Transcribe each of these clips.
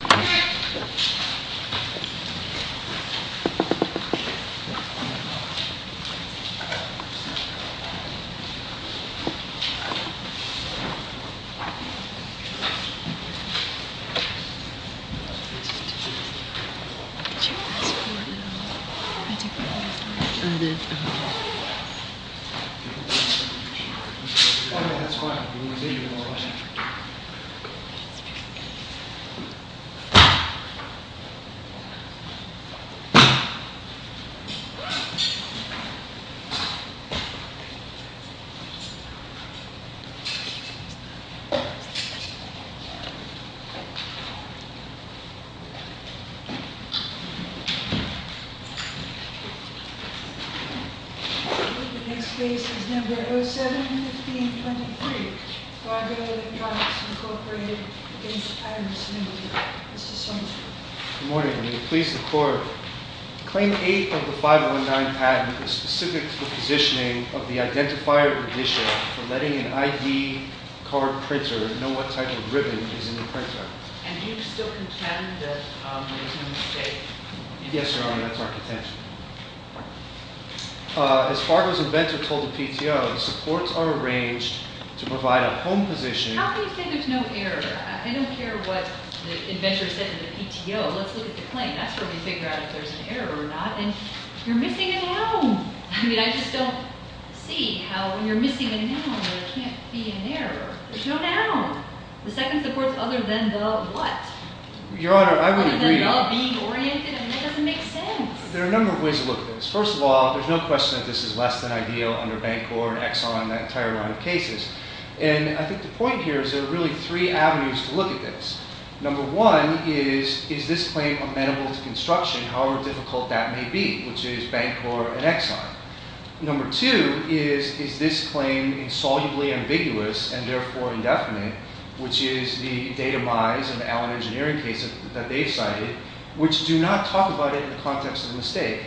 Thank you very much. The next case is number 07-1523, Fargo Electronics, Incorporated, against Iverson, New York. Good morning. Will you please record? Claim 8 of the 519 patent is specific to the positioning of the identifier edition for letting an ID card printer know what type of ribbon is in the printer. And you still contend that there is no mistake? Yes, Your Honor, that's our contention. As Fargo's inventor told the PTO, the supports are arranged to provide a home positioning... How can you say there's no error? I don't care what the inventor said to the PTO. Let's look at the claim. That's where we figure out if there's an error or not. And you're missing a noun. I mean, I just don't see how when you're missing a noun, there can't be an error. There's no noun. The second supports other than the what? Your Honor, I would agree... Other than the being oriented? I mean, that doesn't make sense. There are a number of ways to look at this. First of all, there's no question that this is less than ideal under Bancor and Exxon and that entire line of cases. And I think the point here is there are really three avenues to look at this. Number one is, is this claim amenable to construction, however difficult that may be, which is Bancor and Exxon. Number two is, is this claim insolubly ambiguous and therefore indefinite, which is the data mize and the Allen Engineering case that they cited, which do not talk about it in the context of a mistake.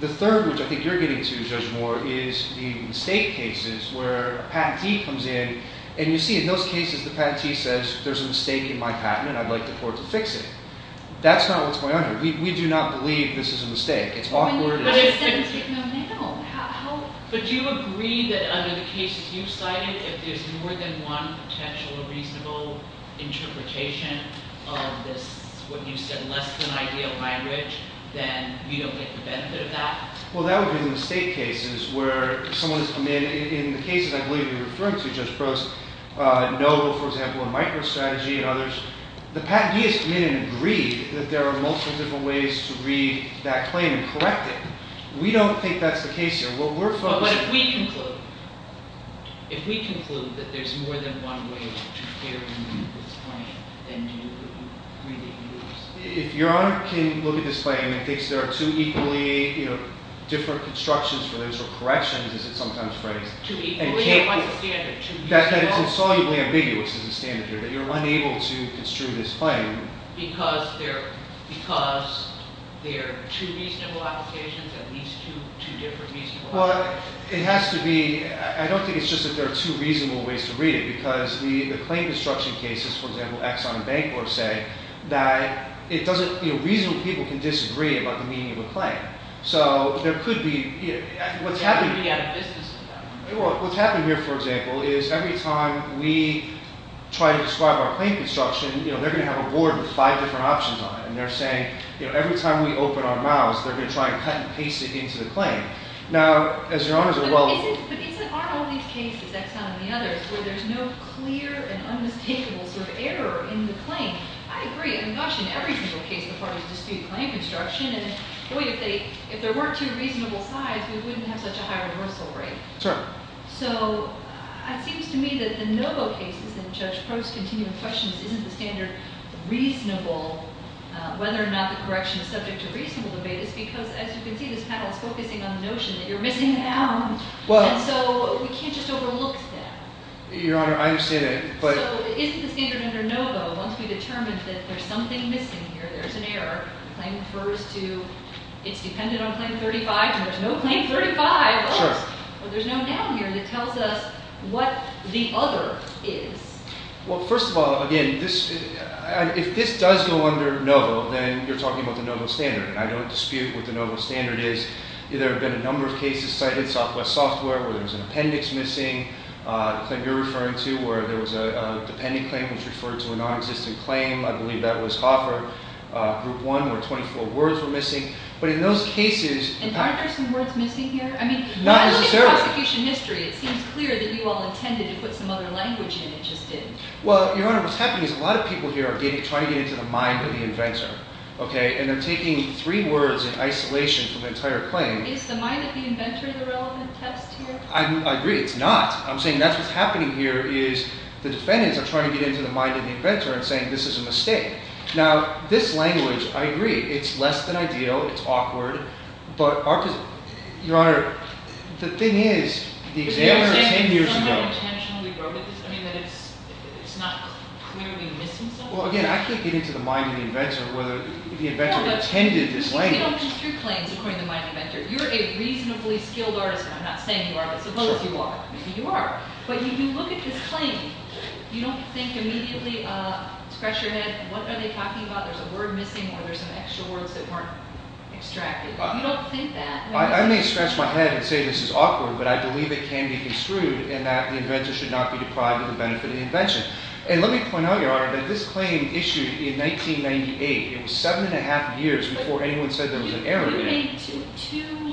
The third, which I think you're getting to, Judge Moore, is the mistake cases where a patentee comes in and you see, in those cases, the patentee says, there's a mistake in my patent and I'd like the court to fix it. That's not what's going on here. We do not believe this is a mistake. It's awkward. But it doesn't take no noun. How... But do you agree that under the cases you cited, if there's more than one potential or reasonable interpretation of this, what you said, less than ideal language, then you don't get the benefit of that? Well, that would be the mistake cases where someone has come in. In the cases I believe you're referring to, Judge Prost, Noble, for example, and MicroStrategy and others, the patentee has come in and agreed that there are multiple different ways to read that claim and correct it. We don't think that's the case here. But if we conclude that there's more than one way to carry this claim, then do you agree that you lose? If your Honor can look at this claim and thinks there are two equally, you know, different constructions for those or corrections, as it's sometimes phrased... Two equally? What's the standard? That it's insolubly ambiguous is the standard here, that you're unable to construe this claim... Because there are two reasonable applications and these two different reasonable applications? Well, it has to be... I don't think it's just that there are two reasonable ways to read it because the claim construction cases, for example, Exxon and Bancor say that it doesn't... you know, reasonable people can disagree about the meaning of a claim. So there could be... what's happening... They could be out of business with that. Well, what's happening here, for example, is every time we try to describe our claim construction, you know, they're going to have a board with five different options on it, and they're saying, you know, every time we open our mouths, they're going to try and cut and paste it into the claim. Now, as your Honor's well... But isn't... aren't all these cases, Exxon and the others, where there's no clear and unmistakable sort of error in the claim? I agree. I mean, gosh, in every single case, the parties dispute claim construction. And, boy, if they... if there weren't two reasonable sides, we wouldn't have such a high reversal rate. Sure. So it seems to me that the Novo cases and Judge Probst's continuing questions isn't the standard reasonable... whether or not the correction is subject to reasonable debate is because, as you can see, this panel is focusing on the notion that you're missing out. Well... And so we can't just overlook that. Your Honor, I understand that, but... So isn't the standard under Novo, once we determine that there's something missing here, there's an error, the claim refers to... it's dependent on Claim 35, and there's no Claim 35. Sure. Well, there's no down here that tells us what the other is. Well, first of all, again, this... if this does go under Novo, then you're talking about the Novo standard, and I don't dispute what the Novo standard is. There have been a number of cases cited, Southwest Software, where there was an appendix missing, the claim you're referring to, where there was a dependent claim which referred to a non-existent claim, I believe that was Hoffer, Group 1, where 24 words were missing. But in those cases... And aren't there some words missing here? Not necessarily. I mean, look at prosecution history. It seems clear that you all intended to put some other language in, it just didn't. Well, Your Honor, what's happening is a lot of people here are trying to get into the mind of the inventor, okay, and they're taking three words in isolation from the entire claim. Is the mind of the inventor the relevant text here? I agree, it's not. I'm saying that's what's happening here is the defendants are trying to get into the mind of the inventor and saying this is a mistake. Now, this language, I agree, it's less than ideal, it's awkward, but our... Your Honor, the thing is, the examiner 10 years ago... Are you saying that someone intentionally wrote it? I mean, that it's not clearly missing something? Well, again, I can't get into the mind of the inventor whether the inventor intended this language. You don't just do claims according to the mind of the inventor. You're a reasonably skilled artist, and I'm not saying you are, but suppose you are. Maybe you are. But when you look at this claim, you don't think immediately, scratch your head, what are they talking about? There's a word missing or there's some extra words that weren't extracted. You don't think that. I may scratch my head and say this is awkward, but I believe it can be construed in that the inventor should not be deprived of the benefit of the invention. And let me point out, Your Honor, that this claim issued in 1998. It was seven and a half years before anyone said there was an error in it. You made two...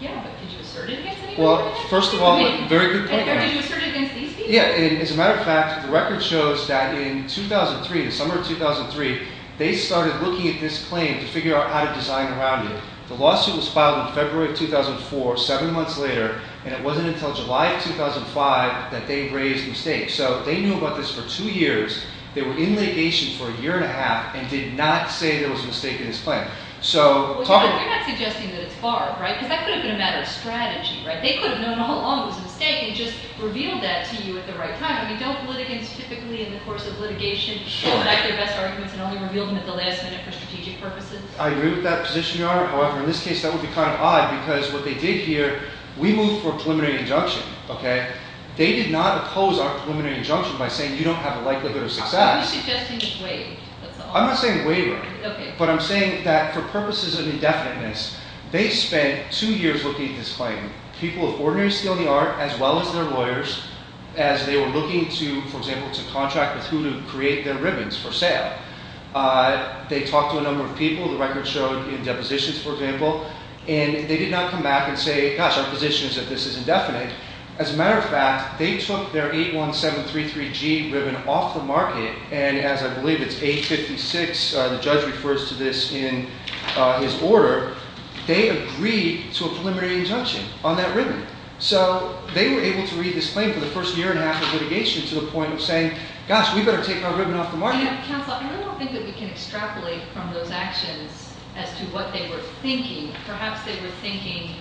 Yeah, but did you assert it against anyone? Well, first of all, very good point. Did you assert it against these people? Yeah, and as a matter of fact, the record shows that in 2003, the summer of 2003, they started looking at this claim to figure out how to design around it. The lawsuit was filed in February of 2004, seven months later, and it wasn't until July of 2005 that they raised the mistake. So they knew about this for two years. They were in litigation for a year and a half and did not say there was a mistake in this claim. Well, you're not suggesting that it's Barb, right? Because that could have been a matter of strategy, right? They could have known all along it was a mistake and just revealed that to you at the right time. I mean, don't litigants typically in the course of litigation collect their best arguments and only reveal them at the last minute for strategic purposes? I agree with that position, Your Honor. However, in this case, that would be kind of odd because what they did here, we moved for a preliminary injunction, okay? They did not oppose our preliminary injunction by saying you don't have a likelihood of success. Are you suggesting it's Waver, that's all? I'm not saying Waver. Okay. But I'm saying that for purposes of indefiniteness, they spent two years looking at this claim, people of ordinary skill in the art as well as their lawyers, as they were looking to, for example, to contract with who to create their ribbons for sale. They talked to a number of people. The record showed in depositions, for example, and they did not come back and say, gosh, our position is that this is indefinite. As a matter of fact, they took their 81733G ribbon off the market, and as I believe it's 856, the judge refers to this in his order, they agreed to a preliminary injunction on that ribbon. So they were able to read this claim for the first year and a half of litigation to the point of saying, gosh, we better take our ribbon off the market. Counsel, I don't think that we can extrapolate from those actions as to what they were thinking. Perhaps they were thinking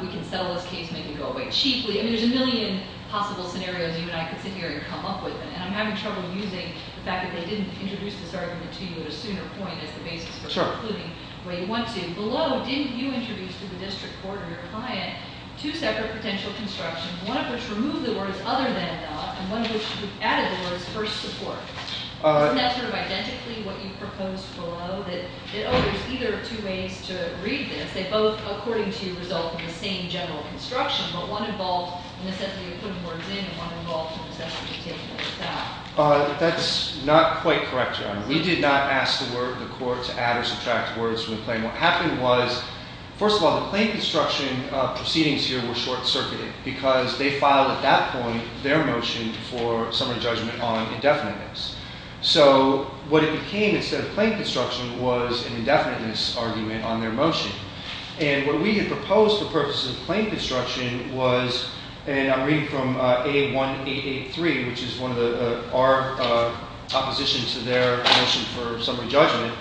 we can settle this case, and we can go away cheaply. I mean, there's a million possible scenarios you and I could sit here and come up with, and I'm having trouble using the fact that they didn't introduce this argument to you at a sooner point as the basis for concluding where you want to. Below, didn't you introduce to the district court or your client two separate potential constructions, one of which removed the words other than and not, and one of which added the words first support? Isn't that sort of identically what you proposed below? That, oh, there's either two ways to read this. They both, according to you, result in the same general construction, but one involved necessarily putting words in and one involved necessarily taking them out. That's not quite correct, Your Honor. We did not ask the court to add or subtract words from the claim. What happened was, first of all, the plain construction proceedings here were short-circuited because they filed at that point their motion for summary judgment on indefiniteness. So what it became instead of plain construction was an indefiniteness argument on their motion. And what we had proposed for purposes of plain construction was, and I'm reading from A1883, which is our opposition to their motion for summary judgment,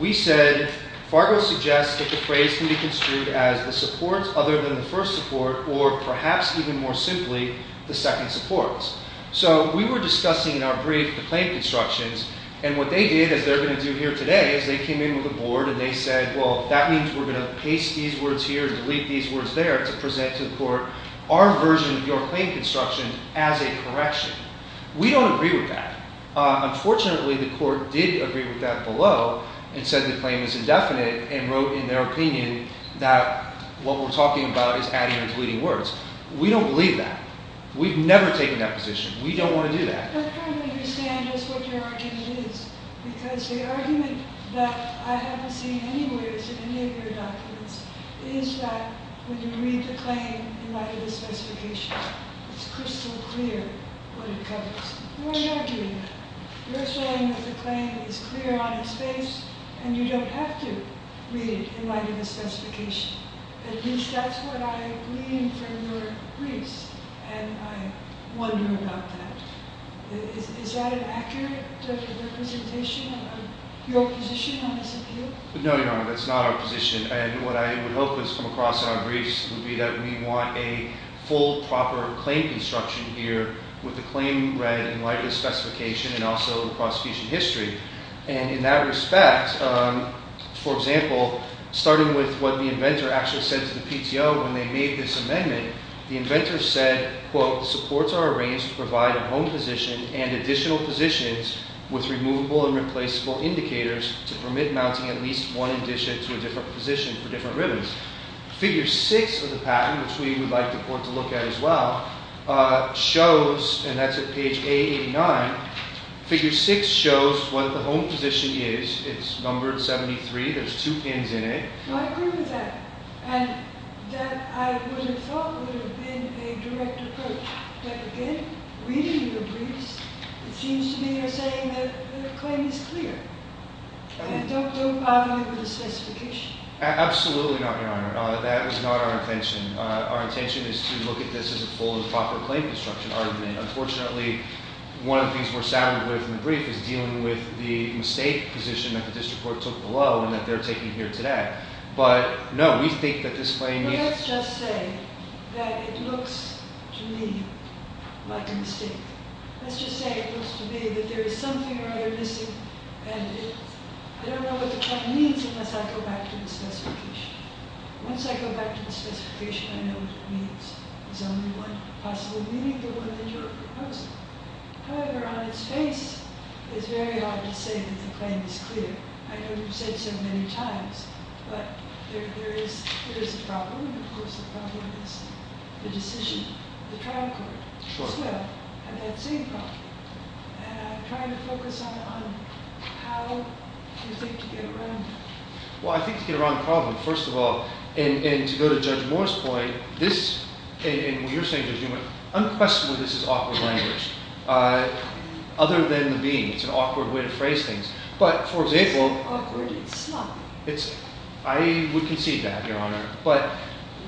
we said, Fargo suggests that the phrase can be construed as the supports other than the first support or, perhaps even more simply, the second supports. So we were discussing in our brief the plain constructions, and what they did, as they're going to do here today, is they came in with a board and they said, well, that means we're going to paste these words here and delete these words there to present to the court our version of your plain construction as a correction. We don't agree with that. Unfortunately, the court did agree with that below and said the claim is indefinite and wrote in their opinion that what we're talking about is adding or deleting words. We don't believe that. We've never taken that position. We don't want to do that. But I don't understand just what your argument is, because the argument that I haven't seen anywhere in any of your documents is that when you read the claim in light of the specification, it's crystal clear what it covers. You're not doing that. You're saying that the claim is clear on its face and you don't have to read it in light of the specification. At least that's what I read from your briefs, and I wonder about that. Is that an accurate representation of your position on this appeal? No, Your Honor, that's not our position. And what I would hope has come across in our briefs would be that we want a full, proper claim construction here with the claim read in light of the specification and also the prosecution history. And in that respect, for example, starting with what the inventor actually said to the PTO when they made this amendment, the inventor said, quote, supports are arranged to provide a home position and additional positions with removable and replaceable indicators to permit mounting at least one addition to a different position for different ribbons. Figure 6 of the patent, which we would like the court to look at as well, shows, and that's at page A89, figure 6 shows what the home position is. It's numbered 73. There's two pins in it. Well, I agree with that. And that I would have thought would have been a direct approach. But again, reading the briefs, it seems to me you're saying that the claim is clear. And don't bother me with the specification. Absolutely not, Your Honor. That was not our intention. Our intention is to look at this as a full and proper claim construction argument. Unfortunately, one of the things we're saddened with in the brief is dealing with the mistake position that the district court took below and that they're taking here today. But no, we think that this claim is... Well, let's just say that it looks to me like a mistake. Let's just say it looks to me that there is something or other missing. And I don't know what the claim means unless I go back to the specification. Once I go back to the specification, I know what it means. There's only one possible meaning, the one that you're proposing. However, on its face, it's very hard to say that the claim is clear. I know you've said so many times, but there is a problem, and of course the problem is the decision. The trial court as well had that same problem. And I'm trying to focus on how you think to get around it. Well, I think to get around the problem, first of all, and to go to Judge Moore's point, this, and what you're saying, Judge Newman, unquestionably this is awkward language. Other than the being. It's an awkward way to phrase things. But, for example... It's not awkward, it's not. I would concede that, Your Honor. But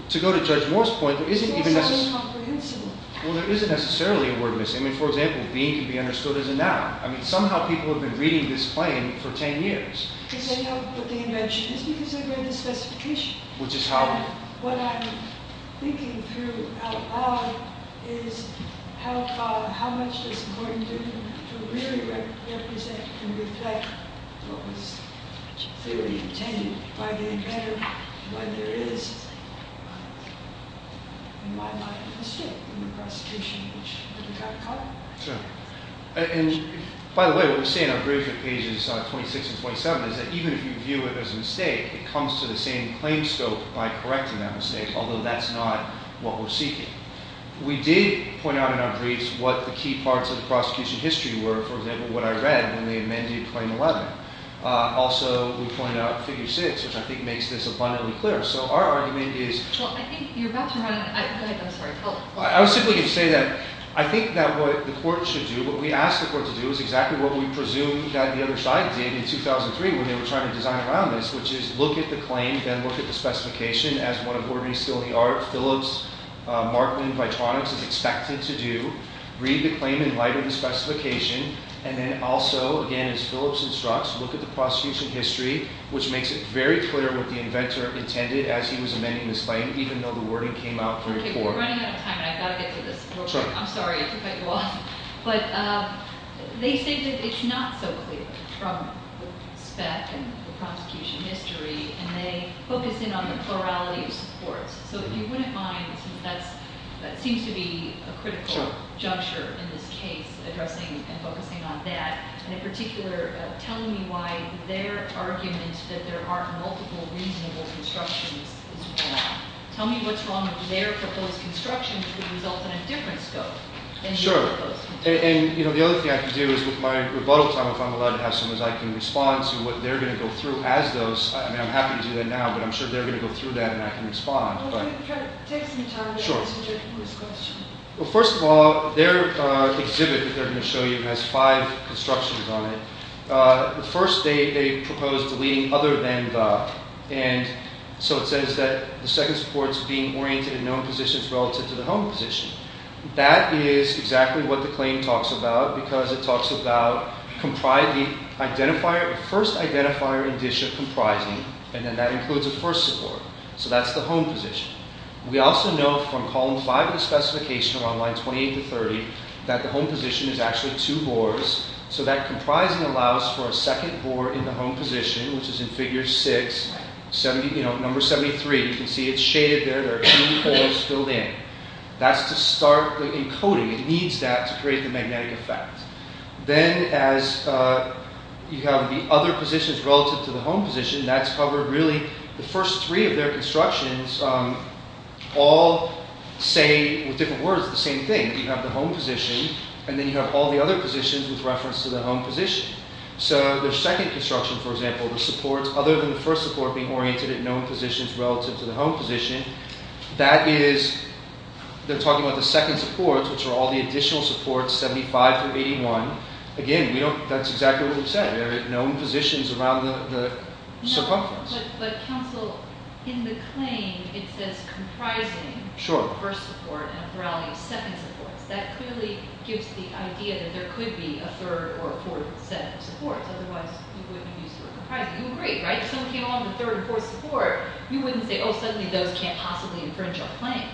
to go to Judge Moore's point, there isn't even necessarily... It's also incomprehensible. Well, there isn't necessarily a word missing. I mean, for example, being can be understood as a noun. I mean, somehow people have been reading this claim for ten years. Because they know what the invention is because they read the specification. Which is how... And what I'm thinking through out loud is how much does Gordon do to really represent and reflect what was clearly obtained by the inventor when there is, in my mind, a mistake in the prosecution which would have got caught. Sure. And, by the way, what we say in our bravery pages, 26 and 27, is that even if you view it as a mistake, it comes to the same claim scope by correcting that mistake, although that's not what we're seeking. We did point out in our briefs what the key parts of the prosecution history were. For example, what I read when they amended Claim 11. Also, we point out Figure 6, which I think makes this abundantly clear. So our argument is... Well, I think you're about to run... Go ahead. I'm sorry. I was simply going to say that I think that what the court should do, what we asked the court to do, is exactly what we presumed that the other side did in 2003 when they were trying to design around this, which is look at the claim and look at the specification as one of ordinary, still-in-the-art Phillips, Markman, Vitronics is expected to do. Read the claim in light of the specification. And then also, again, as Phillips instructs, look at the prosecution history, which makes it very clear what the inventor intended as he was amending this claim, even though the wording came out very poorly. Okay, we're running out of time, and I've got to get to this real quick. I'm sorry. I took out you all. But they say that it's not so clear from the spec and the prosecution history, and they focus in on the plurality of supports. So if you wouldn't mind, since that seems to be a critical juncture in this case, addressing and focusing on that, and in particular telling me why their argument that there aren't multiple reasonable constructions is wrong. Tell me what's wrong with their proposed construction which would result in a different scope than your proposed construction. Sure. And the other thing I can do is with my rebuttal time, if I'm allowed to have some, is I can respond to what they're going to go through as those. I mean, I'm happy to do that now, but I'm sure they're going to go through that, and I can respond. Take some time to consider this question. Well, first of all, their exhibit that they're going to show you has five constructions on it. The first, they propose deleting other than the. And so it says that the second support is being oriented in known positions relative to the home position. That is exactly what the claim talks about because it talks about the first identifier condition comprising, and then that includes a first support. So that's the home position. We also know from column five of the specification on line 28 to 30 that the home position is actually two boards, so that comprising allows for a second board in the home position, which is in figure six, number 73. You can see it's shaded there. There are two boards filled in. That's to start the encoding. It needs that to create the magnetic effect. Then as you have the other positions relative to the home position, that's covered really. The first three of their constructions all say, with different words, the same thing. You have the home position, and then you have all the other positions with reference to the home position. So their second construction, for example, the supports other than the first support being oriented in known positions relative to the home position, that is, they're talking about the second supports, which are all the additional supports, 75 through 81. Again, that's exactly what we've said. There are known positions around the circumference. No, but counsel, in the claim, it says comprising the first support and a plurality of second supports. That clearly gives the idea that there could be a third or a fourth set of supports. Otherwise, you wouldn't use the word comprising. You agree, right? If someone came along with a third or fourth support, you wouldn't say, oh, suddenly those can't possibly infringe our claim.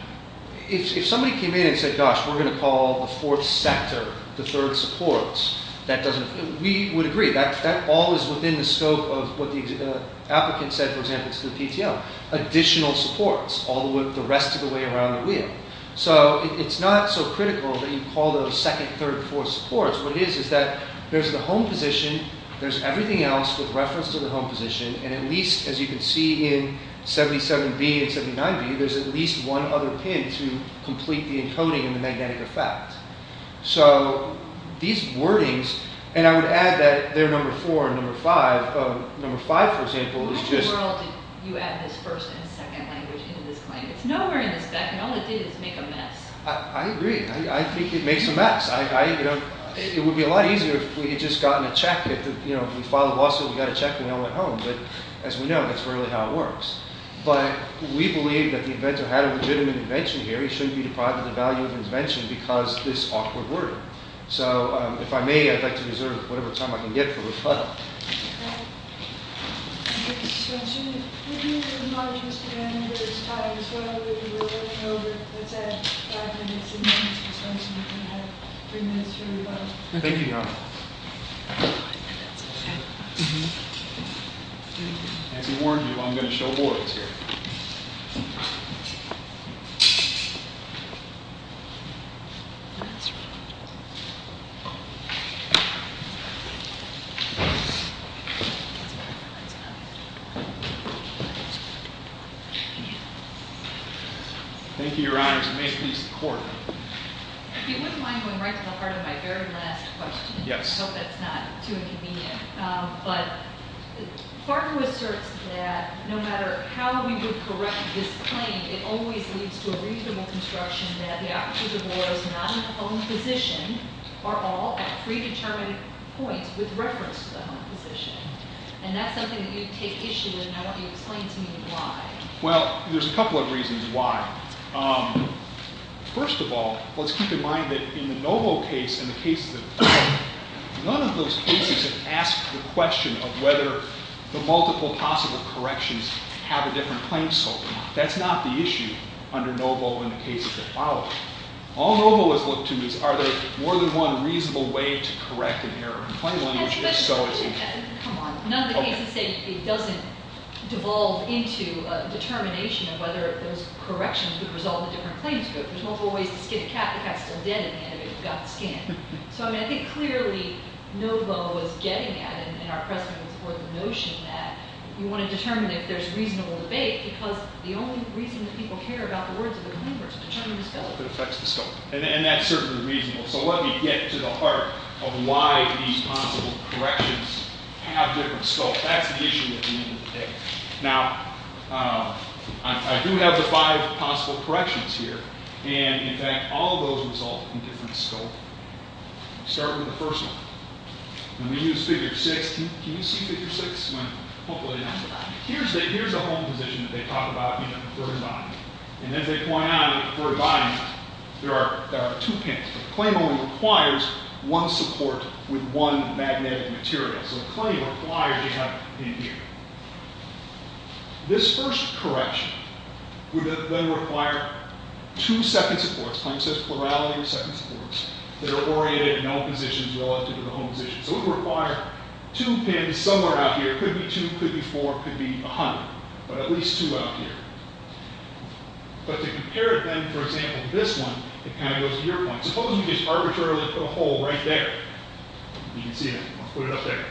If somebody came in and said, gosh, we're gonna call the fourth sector the third supports, that doesn't, we would agree. That all is within the scope of what the applicant said, for example, to the PTL, additional supports, all the rest of the way around the wheel. So it's not so critical that you call those second, third, fourth supports. What it is is that there's the home position, there's everything else with reference to the home position, and at least, as you can see in 77B and 79B, there's at least one other pin to complete the encoding in the magnetic effect. So these wordings, and I would add that they're number four and number five. Number five, for example, is just... How in the world did you add this first and second language into this claim? It's nowhere in the spec, and all it did is make a mess. I agree. I think it makes a mess. I, you know, it would be a lot easier if we had just gotten a check, if, you know, we filed a lawsuit, we got a check, and no one went home. But as we know, that's really how it works. But we believe that the inventor who had a legitimate invention here, he shouldn't be deprived of the value of an invention because of this awkward wording. So if I may, I'd like to reserve whatever time I can get for rebuttal. All right. So I'm assuming... We do apologize for the time, as well, that we were running over. Let's add five minutes. We're going to have three minutes for rebuttal. Thank you, Your Honor. As we warned you, I'm going to show boards here. Last one. Thank you, Your Honor. If you may, please, the court. If you wouldn't mind going right to the heart of my very last question. Yes. I hope that's not too inconvenient. But Fargo asserts that no matter how we would correct this claim, it always leads to a reasonable construction that the opposite of lawyers not in the home position are all at predetermined points with reference to the home position. And that's something that you take issue with, and I want you to explain to me why. Well, there's a couple of reasons why. First of all, let's keep in mind that in the Novo case and the cases of Fargo, none of those cases have asked the question of whether the multiple possible corrections have a different claim scope. That's not the issue under Novo in the cases that follow. All Novo has looked to is, are there more than one reasonable way to correct an error in claim language, if so, is it? Come on. None of the cases say it doesn't devolve into a determination of whether those corrections would result in a different claim scope. There's multiple ways to skin a cat. The cat's still dead in the end, but you've got to skin it. So, I mean, I think clearly Novo was getting at, in our precedents, the notion that you want to determine if there's reasonable debate, because the only reason that people care about the words of the claimer is to determine the scope. It affects the scope, and that's certainly reasonable. So let me get to the heart of why these possible corrections have different scope. That's the issue at the end of the day. Now, I do have the five possible corrections here, and in fact, all of those result in different scope. Start with the first one. When we use Figure 6, can you see Figure 6? Hopefully not. Here's a home position that they talk about, you know, for a body. And as they point out, for a body, there are two panels. The claim only requires one support with one magnetic material. So the claim requires you have it in here. This first correction would then require two second supports. The claim says plurality of second supports that are oriented in all positions relative to the home position. So it would require two pins somewhere out here. It could be two, could be four, could be a hundred, but at least two out here. But to compare them, for example, this one, it kind of goes to your point. Suppose you just arbitrarily put a hole right there. You can see that. I'll put it up there.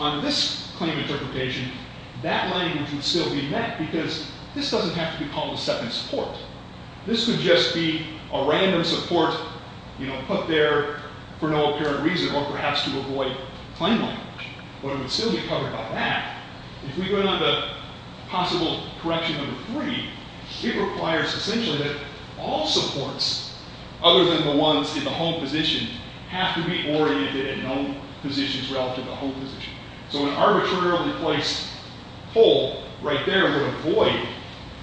On this claim interpretation, that language would still be met because this doesn't have to be called a second support. This would just be a random support, you know, put there for no apparent reason or perhaps to avoid claim language. But it would still be covered by that. If we go down to possible correction number three, it requires essentially that all supports other than the ones in the home position have to be oriented in all positions relative to the home position. So an arbitrarily placed hole right there would avoid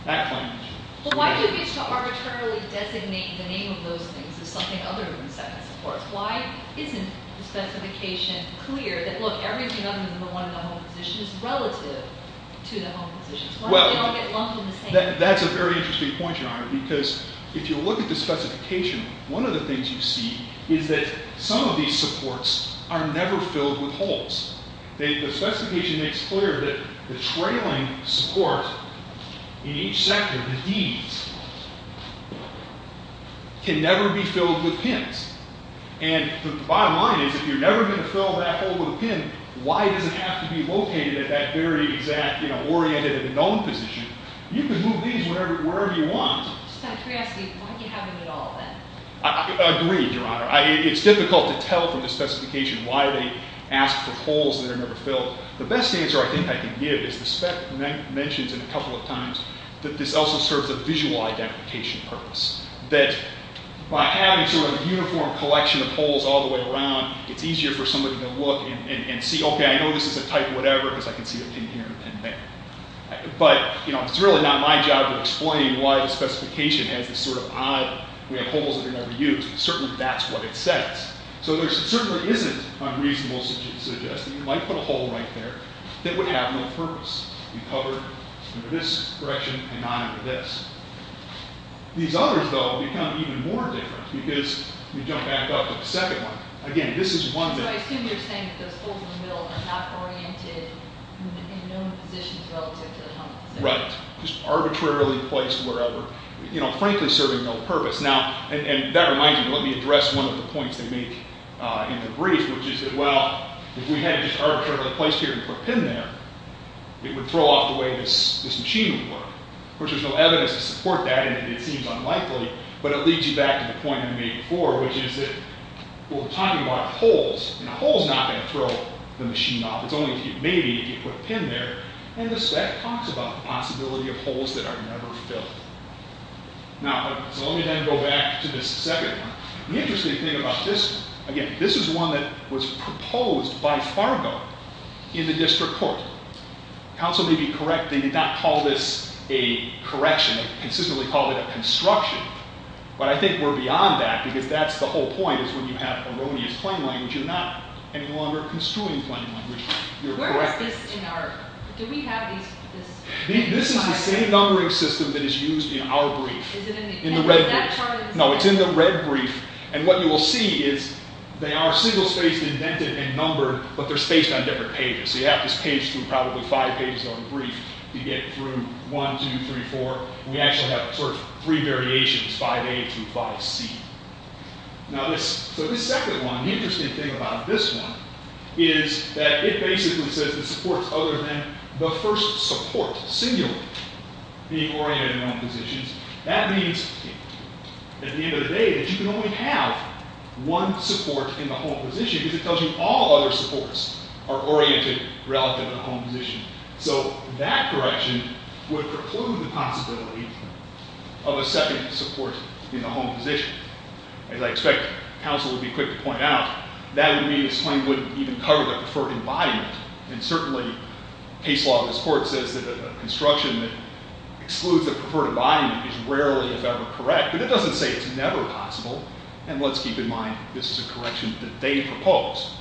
that claim language. But why do we have to arbitrarily designate the name of those things as something other than second supports? Why isn't the specification clear that, look, everything other than the one in the home position is relative to the home position? Why don't they all get lumped in the same? That's a very interesting point, Your Honor, because if you look at the specification, one of the things you see is that some of these supports are never filled with holes. The specification makes clear that the trailing support in each sector, the Ds, can never be filled with pins. And the bottom line is if you're never going to fill that hole with a pin, why does it have to be located at that very exact oriented at the dome position? You can move these wherever you want. Just out of curiosity, why do you have them at all then? I agree, Your Honor. It's difficult to tell from the specification why they ask for holes that are never filled. The best answer I think I can give is the spec mentions it a couple of times that this also serves a visual identification purpose. That by having sort of a uniform collection of holes all the way around, it's easier for somebody to look and see, okay, I know this is a type of whatever because I can see a pin here and a pin there. But it's really not my job to explain why the specification has this sort of odd, we have holes that are never used, but certainly that's what it says. So there certainly isn't unreasonable suggestion that you might put a hole right there that would have no purpose. You cover under this direction and not under this. These others, though, become even more different because you jump back up to the second one. Again, this is one that... So I assume you're saying that those holes in the middle are not oriented in known positions relative to the... Right, just arbitrarily placed wherever, you know, frankly serving no purpose. Now, and that reminds me, let me address one of the points they make in the brief, which is that, well, if we had it just arbitrarily placed here and put a pin there, it would throw off the way this machine would work. Of course, there's no evidence to support that, and it seems unlikely, but it leads you back to the point I made before, which is that we're talking about holes, and a hole's not going to throw the machine off. It's only, maybe, if you put a pin there, and that talks about the possibility of holes that are never filled. Now, so let me then go back to this second one. The interesting thing about this, again, this is one that was proposed by Fargo in the district court. Counsel may be correct. They did not call this a correction. They consistently called it a construction, but I think we're beyond that, because that's the whole point, is when you have erroneous plain language, you're not any longer construing plain language. You're correcting it. Where is this in our... Do we have these... This is the same numbering system that is used in our brief. Is it in the... In the red brief. No, it's in the red brief, and what you will see is they are single-spaced, indented, and numbered, but they're spaced on different pages. So you have this page through probably five pages of a brief to get through one, two, three, four, and we actually have sort of three variations, five A through five C. Now, this... So this second one, the interesting thing about this one is that it basically says the supports other than the first support singular being oriented in all positions. That means, at the end of the day, that you can only have one support in the whole position, because it tells you all other supports are oriented relative to the home position. So that correction would preclude the possibility of a second support in the home position. As I expected, counsel would be quick to point out that would mean this claim wouldn't even cover the preferred embodiment, and certainly case law of this Court says that a construction that excludes the preferred embodiment is rarely, if ever, correct, but it doesn't say it's never possible, and let's keep in mind this is a correction that they proposed.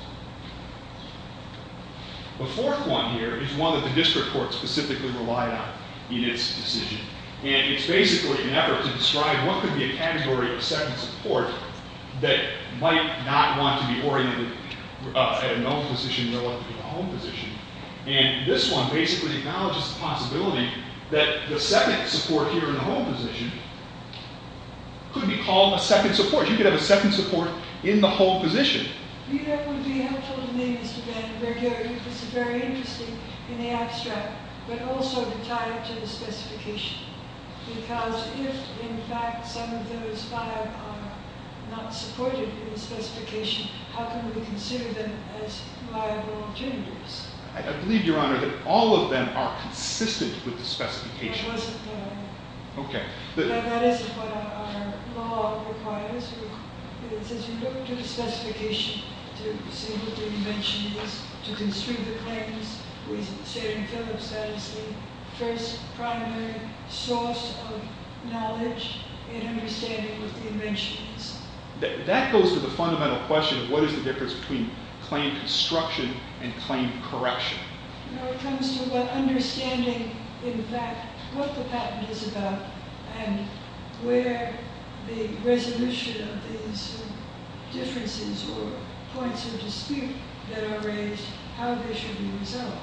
The fourth one here is one that the District Court specifically relied on in its decision, and it's basically an effort to describe what could be a category of second support that might not want to be oriented at an all position relative to the home position, and this one basically acknowledges the possibility that the second support here in the home position could be called a second support. You could have a second support in the home position. I believe, Your Honor, that all of them are consistent with the specification. Okay. It says you look to the specification to see what the invention is, to construe the claims. We say in Phillips that is the first primary source of knowledge in understanding what the invention is. That goes to the fundamental question of what is the difference between claim construction and claim correction. No, it comes to what understanding, in fact, what the patent is about and where the resolution of these differences or points of dispute that are raised, how they should be resolved.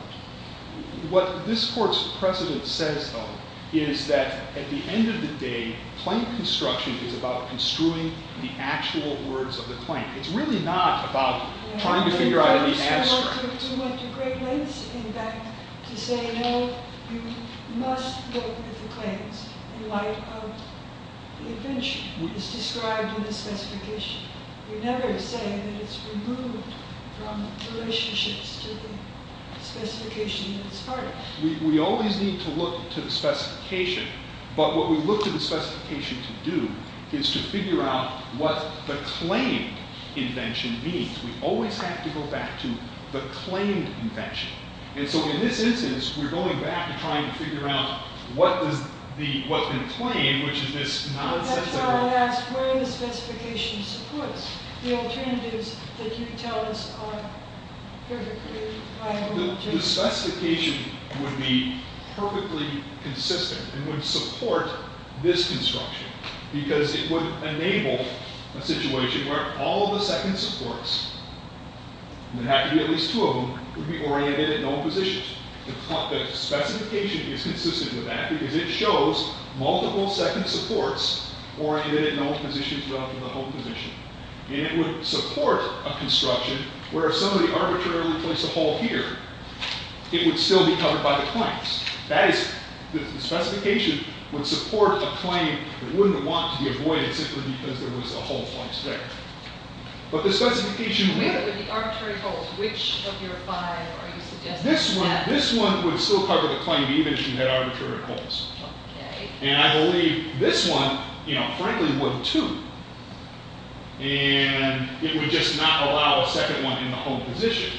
What this Court's precedent says, though, is that at the end of the day, claim construction is about construing the actual words of the claim. It's really not about trying to figure out the answer. You don't have to look too much at great lengths, in fact, to say, no, you must look at the claims. In light of the invention, it's described in the specification. We never say that it's removed from relationships to the specification that it's part of. We always need to look to the specification, but what we look to the specification to do is to figure out what the claimed invention means. We always have to go back to the claimed invention. And so in this instance, we're going back and trying to figure out what the claimed, which is this nonsensical... That's why I asked where the specification supports. The alternatives that you tell us are perfectly viable. The specification would be perfectly consistent and would support this construction because it would enable a situation where all of the second supports, and there would have to be at least two of them, would be oriented in all positions. The specification is consistent with that because it shows multiple second supports oriented in all positions rather than the whole position. And it would support a construction where if somebody arbitrarily placed a hole here, it would still be covered by the claims. That is, the specification would support a claim that wouldn't want to be avoided simply because there was a hole placed there. But the specification... Which of your five are you suggesting? This one would still cover the claim even if you had arbitrary holes. And I believe this one, frankly, would too. And it would just not allow a second one in the whole position.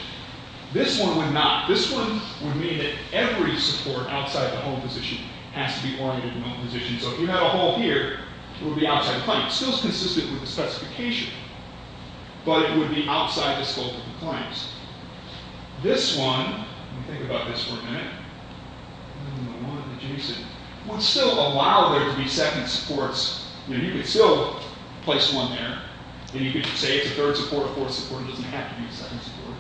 This one would not. This one would mean that every support outside the whole position has to be oriented in all positions. So if you had a hole here, it would be outside the claim. It's still consistent with the specification, but it would be outside the scope of the claims. This one... Let me think about this for a minute. Number one, adjacent. Would still allow there to be second supports. You know, you could still place one there, and you could say it's a third support or fourth support. It doesn't have to be a second support.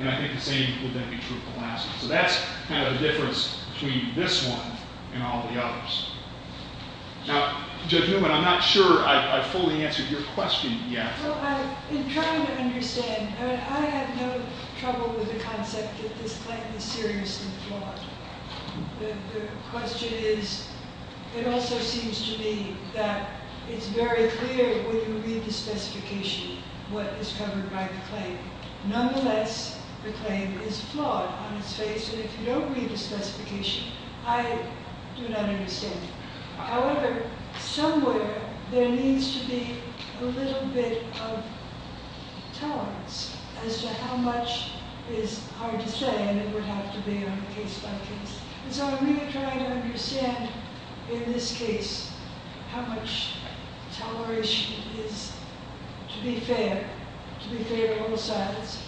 And I think the same would then be true of the last one. So that's kind of the difference between this one and all the others. Now, Judge Newman, I'm not sure I fully answered your question yet. Well, I've been trying to understand. I mean, I have no trouble with the concept that this claim is seriously flawed. The question is, it also seems to me that it's very clear when you read the specification what is covered by the claim. Nonetheless, the claim is flawed on its face. And if you don't read the specification, I do not understand it. However, somewhere there needs to be a little bit of tolerance as to how much is hard to say, and it would have to be on a case-by-case. And so I'm really trying to understand, in this case, how much toleration is, to be fair, to be fair on both sides,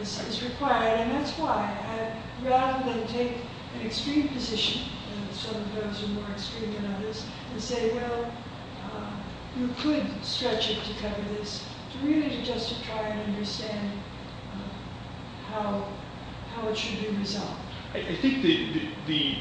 is required. And that's why, rather than take an extreme position, and some of those are more extreme than others, and say, well, you could stretch it to cover this, really just to try and understand how it should be resolved. I think the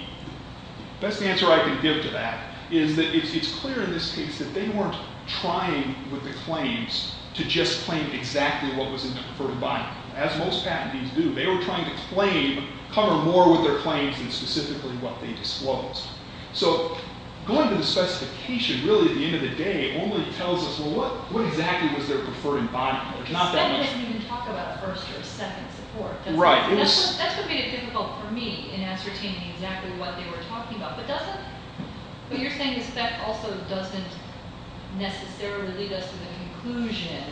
best answer I can give to that is that it's clear in this case that they weren't trying with the claims to just claim exactly what was inferred by them. As most patentees do, they were trying to claim, cover more with their claims than specifically what they disclosed. So going to the specification, really, at the end of the day, only tells us, well, what exactly was their preferred embodiment? It's not that much... Speck didn't even talk about first or second support. Right. That's what made it difficult for me in ascertaining exactly what they were talking about. But doesn't... What you're saying is Speck also doesn't necessarily lead us to the conclusion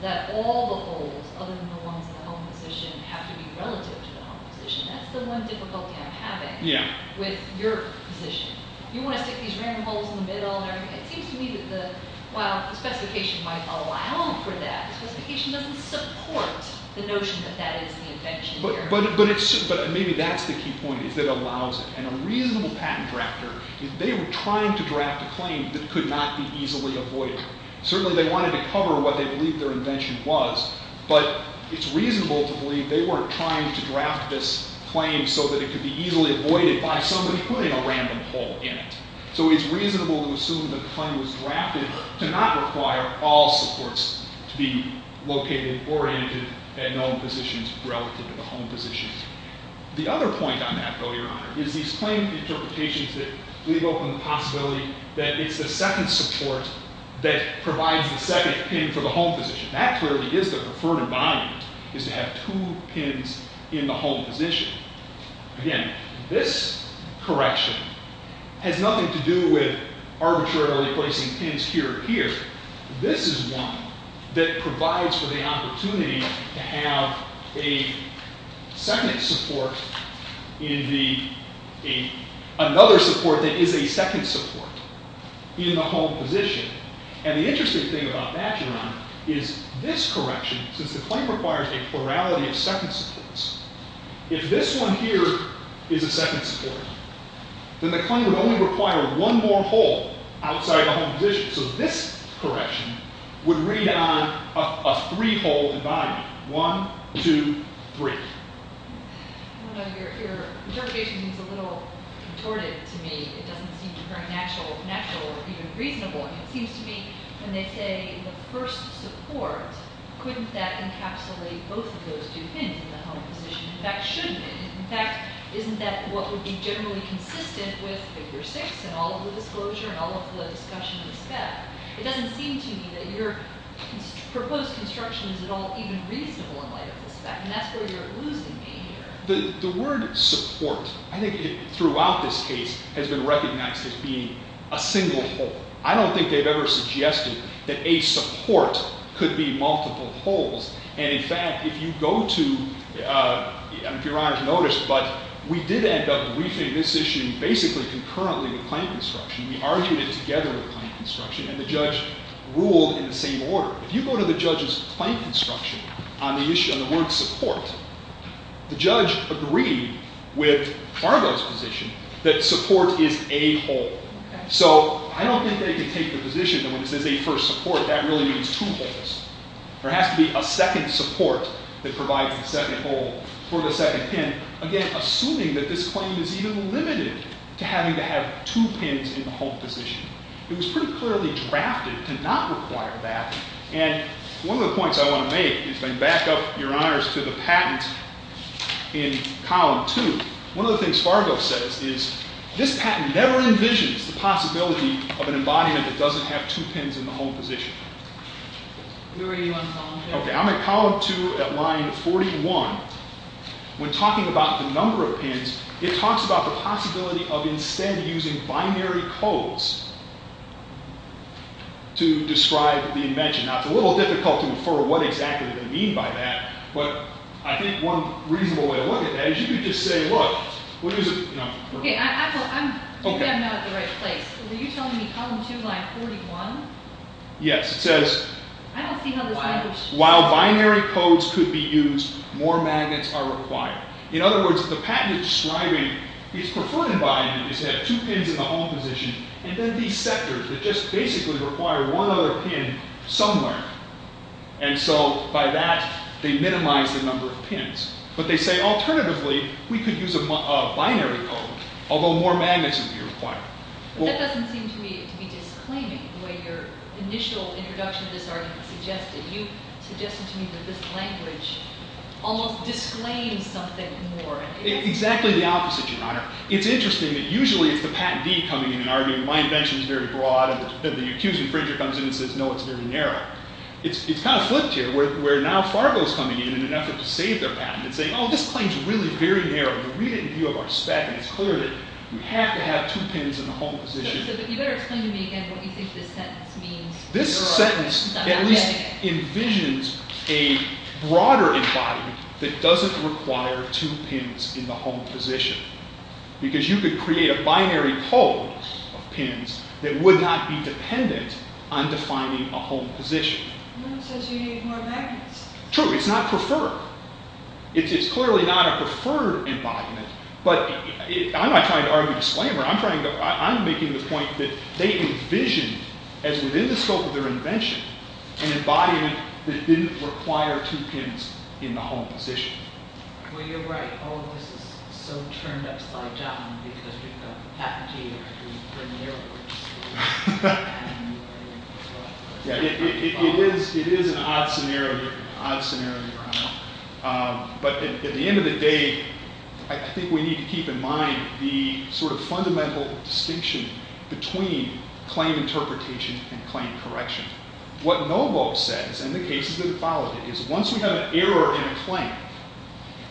that all the holds, other than the ones in the home position, have to be relative to the home position. That's the one difficulty I'm having with your position. You want to stick these random holes in the middle and everything. It seems to me that, well, the specification might allow for that. The specification doesn't support the notion that that is the invention here. But maybe that's the key point, is that it allows it. And a reasonable patent drafter, if they were trying to draft a claim that could not be easily avoided, certainly they wanted to cover what they believed their invention was, but it's reasonable to believe they were trying to draft this claim so that it could be easily avoided by somebody putting a random hole in it. So it's reasonable to assume the claim was drafted to not require all supports to be located, oriented, at known positions relative to the home positions. The other point on that, though, Your Honor, is these claim interpretations that leave open the possibility that it's the second support that provides the second pin for the home position. That clearly is the preferred environment, is to have two pins in the home position. Again, this correction has nothing to do with arbitrarily placing pins here or here. This is one that provides for the opportunity to have a second support in the... another support that is a second support in the home position. And the interesting thing about that, Your Honor, is this correction, since the claim requires a plurality of second supports, if this one here is a second support, then the claim would only require one more hole outside the home position. So this correction would read on a three-hole environment. One, two, three. Your interpretation seems a little contorted to me. It doesn't seem to bring natural or even reasonable. It seems to me, when they say the first support, couldn't that encapsulate both of those two pins in the home position? In fact, shouldn't it? In fact, isn't that what would be generally consistent with Figure 6 and all of the disclosure and all of the discussion of the spec? It doesn't seem to me that your proposed construction is at all even reasonable in light of the spec, and that's where you're losing me here. The word support, I think, throughout this case, has been recognized as being a single hole. I don't think they've ever suggested that a support could be multiple holes. And in fact, if you go to, if Your Honor has noticed, but we did end up briefing this issue basically concurrently with claim construction. We argued it together with claim construction, and the judge ruled in the same order. If you go to the judge's claim construction on the word support, the judge agreed with Fargo's position that support is a hole. So I don't think they can take the position that when it says a first support, that really means two holes. There has to be a second support that provides the second hole for the second pin. Again, assuming that this claim is even limited to having to have two pins in the home position. It was pretty clearly drafted to not require that. And one of the points I want to make, and back up, Your Honors, to the patent in column 2. One of the things Fargo says is this patent never envisions the possibility of an embodiment that doesn't have two pins in the home position. I'm at column 2 at line 41. When talking about the number of pins, it talks about the possibility of instead using binary codes to describe the invention. Now, it's a little difficult to infer what exactly they mean by that. But I think one reasonable way to look at that is you could just say, look, what is it? I think I'm not at the right place. Are you telling me column 2, line 41? Yes, it says, while binary codes could be used, more magnets are required. In other words, the patent is describing, it's preferred environment is to have two pins in the home position, and then these sectors that just basically require one other pin somewhere. And so by that, they minimize the number of pins. But they say, alternatively, we could use a binary code, although more magnets would be required. But that doesn't seem to me to be disclaiming the way your initial introduction to this argument suggested. You suggested to me that this language almost disclaims something more. It's exactly the opposite, Your Honor. It's interesting that usually it's the patentee coming in and arguing my invention is very broad, and then the accused infringer comes in and says, no, it's very narrow. It's kind of flipped here, where now Fargo's coming in in an effort to save their patent and saying, oh, this claim's really very narrow. You read it in view of our spec, and it's clear that we have to have two pins in the home position. But you better explain to me again what we think this sentence means. This sentence at least envisions a broader embodiment that doesn't require two pins in the home position. Because you could create a binary code of pins that would not be dependent on defining a home position. No, it says you need more magnets. True. It's not preferred. It's clearly not a preferred embodiment. But I'm not trying to argue disclaimer. I'm making the point that they envisioned, as within the scope of their invention, an embodiment that didn't require two pins in the home position. Well, you're right. All of this is so turned upside down, because we've got a patentee, or we've written the error words, and we've written the code. It is an odd scenario, but at the end of the day, I think we need to keep in mind the sort of fundamental distinction between claim interpretation and claim correction. What Novo says, and the cases that have followed it, is once we have an error in a claim,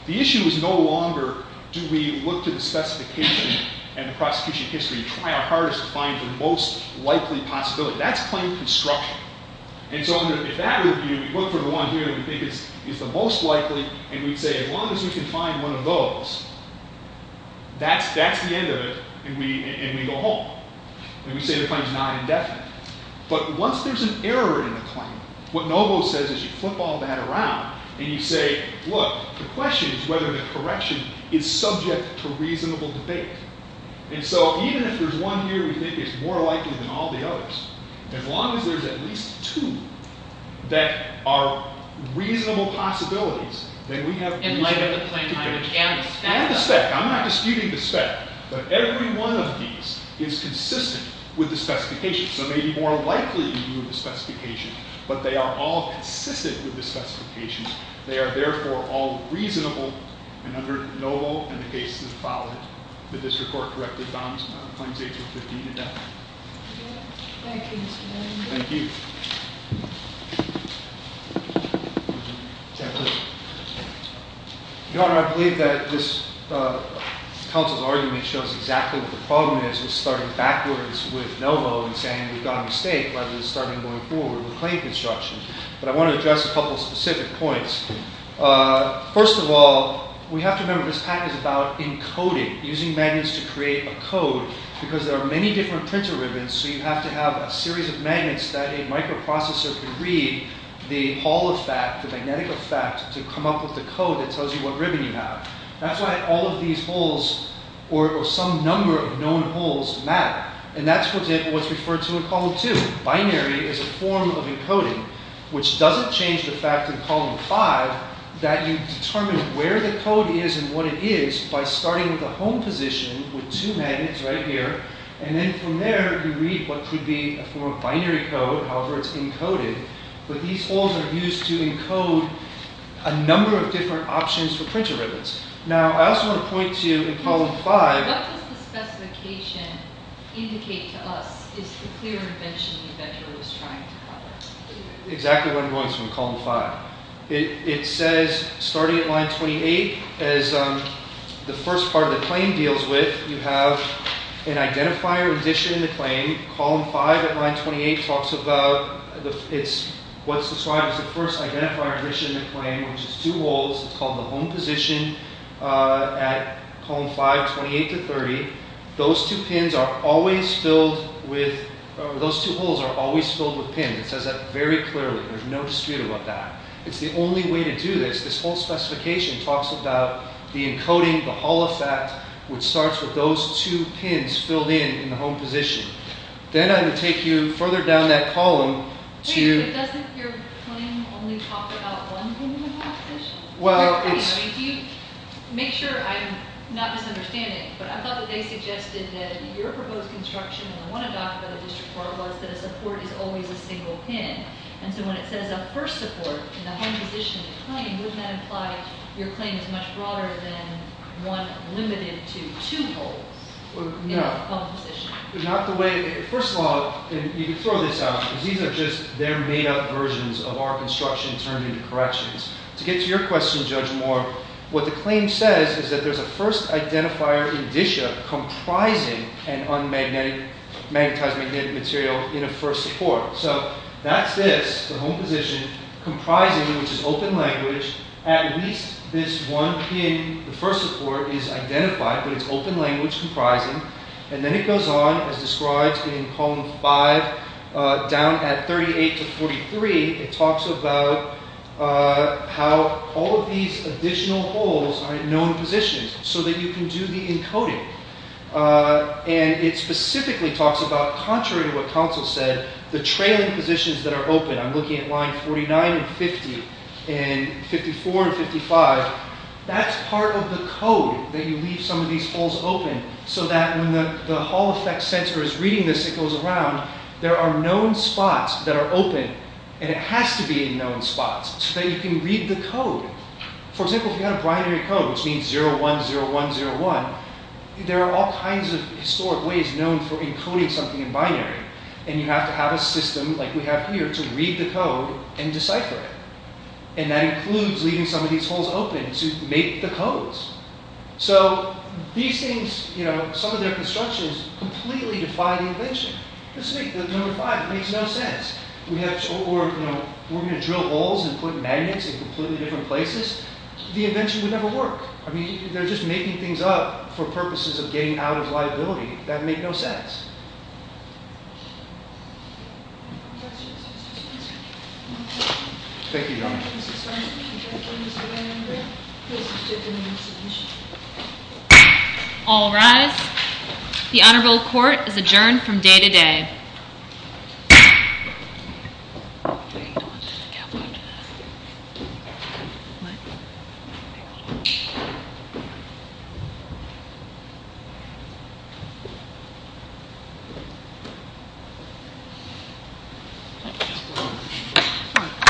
the issue is no longer do we look to the specification and the prosecution history and try our hardest to find the most likely possibility. That's claim construction. And so if that were the view, we'd look for the one here that we think is the most likely, and we'd say, as long as we can find one of those, that's the end of it, and we go home. And we say the claim's not indefinite. But once there's an error in the claim, what Novo says is you flip all that around, and you say, look, the question is whether the correction is subject to reasonable debate. And so even if there's one here we think is more likely than all the others, as long as there's at least two that are reasonable possibilities, then we have reasonable debate. In light of the plain language and the spec. And the spec. I'm not disputing the spec. But every one of these is consistent with the specification. So they may be more likely to do the specification, but they are all consistent with the specification. They are, therefore, all reasonable and under Novo and the cases that followed it. Did this report correctly found claims age of 15 and up? Thank you, Mr. Chairman. Thank you. Your Honor, I believe that this counsel's argument shows exactly what the problem is with starting backwards with Novo and saying we've got a mistake, rather than starting going forward with claim construction. But I want to address a couple specific points. First of all, we have to remember this pack is about encoding, using magnets to create a code, because there are many different printer ribbons. So you have to have a series of magnets that a microprocessor can read the Hall effect, the magnetic effect, to come up with the code that tells you what ribbon you have. That's why all of these holes, or some number of known holes, matter. And that's what's referred to in column two. Binary is a form of encoding, which doesn't change the fact in column five that you determine where the code is and what it is by starting with the home position with two magnets right here. And then from there, you read what could be a form of binary code. However, it's encoded. But these holes are used to encode a number of different options for printer ribbons. Now, I also want to point to in column five. What does the specification indicate to us is the clear invention that Juro was trying to cover? Exactly what I'm going to say in column five. It says, starting at line 28, as the first part of the claim deals with, you have an identifier addition in the claim. Column five at line 28 talks about what's described as the first identifier addition in the claim, which is two holes. It's called the home position at column five, 28 to 30. Those two pins are always filled with, or those two holes are always filled with pins. It says that very clearly. There's no dispute about that. It's the only way to do this. This whole specification talks about the encoding, the Hall effect, which starts with those two pins filled in in the home position. Then I'm going to take you further down that column to. Wait, but doesn't your claim only talk about one pin in the home position? Well, it's. I mean, do you make sure I'm not misunderstanding. But I thought that they suggested that your proposed construction, and I want to talk about this report, was that a support is always a single pin. And so when it says a first support in the home position of the claim, wouldn't that imply your claim is much broader than one limited to two holes in the home position? Not the way. First of all, you can throw this out, because these are just their made up versions of our construction turned into corrections. To get to your question, Judge Moore, what the claim says is that there's a first identifier addition comprising an un-magnetized magnetic material in a first support. So that's this, the home position, comprising which is open language. At least this one pin, the first support, is identified. But it's open language comprising. And then it goes on, as described in column five, down at 38 to 43. It talks about how all of these additional holes are in known positions, so that you can do the encoding. And it specifically talks about, contrary to what counsel said, the trailing positions that are open. I'm looking at line 49 and 50, and 54 and 55. That's part of the code, that you leave some of these holes open. So that when the hall effect sensor is reading this, it goes around. There are known spots that are open. And it has to be in known spots, so that you can read the code. For example, if you had a binary code, which means 010101, there are all kinds of historic ways known for encoding something in binary. And you have to have a system, like we have here, to read the code and decipher it. And that includes leaving some of these holes open to make the codes. So these things, some of their constructions completely defy the invention. This is number five. It makes no sense. We're going to drill holes and put magnets in completely different places. The invention would never work. I mean, they're just making things up for purposes of getting out of liability. That'd make no sense. Thank you, Your Honor. All rise. The honorable court is adjourned from day to day. What? There you go. Thank you.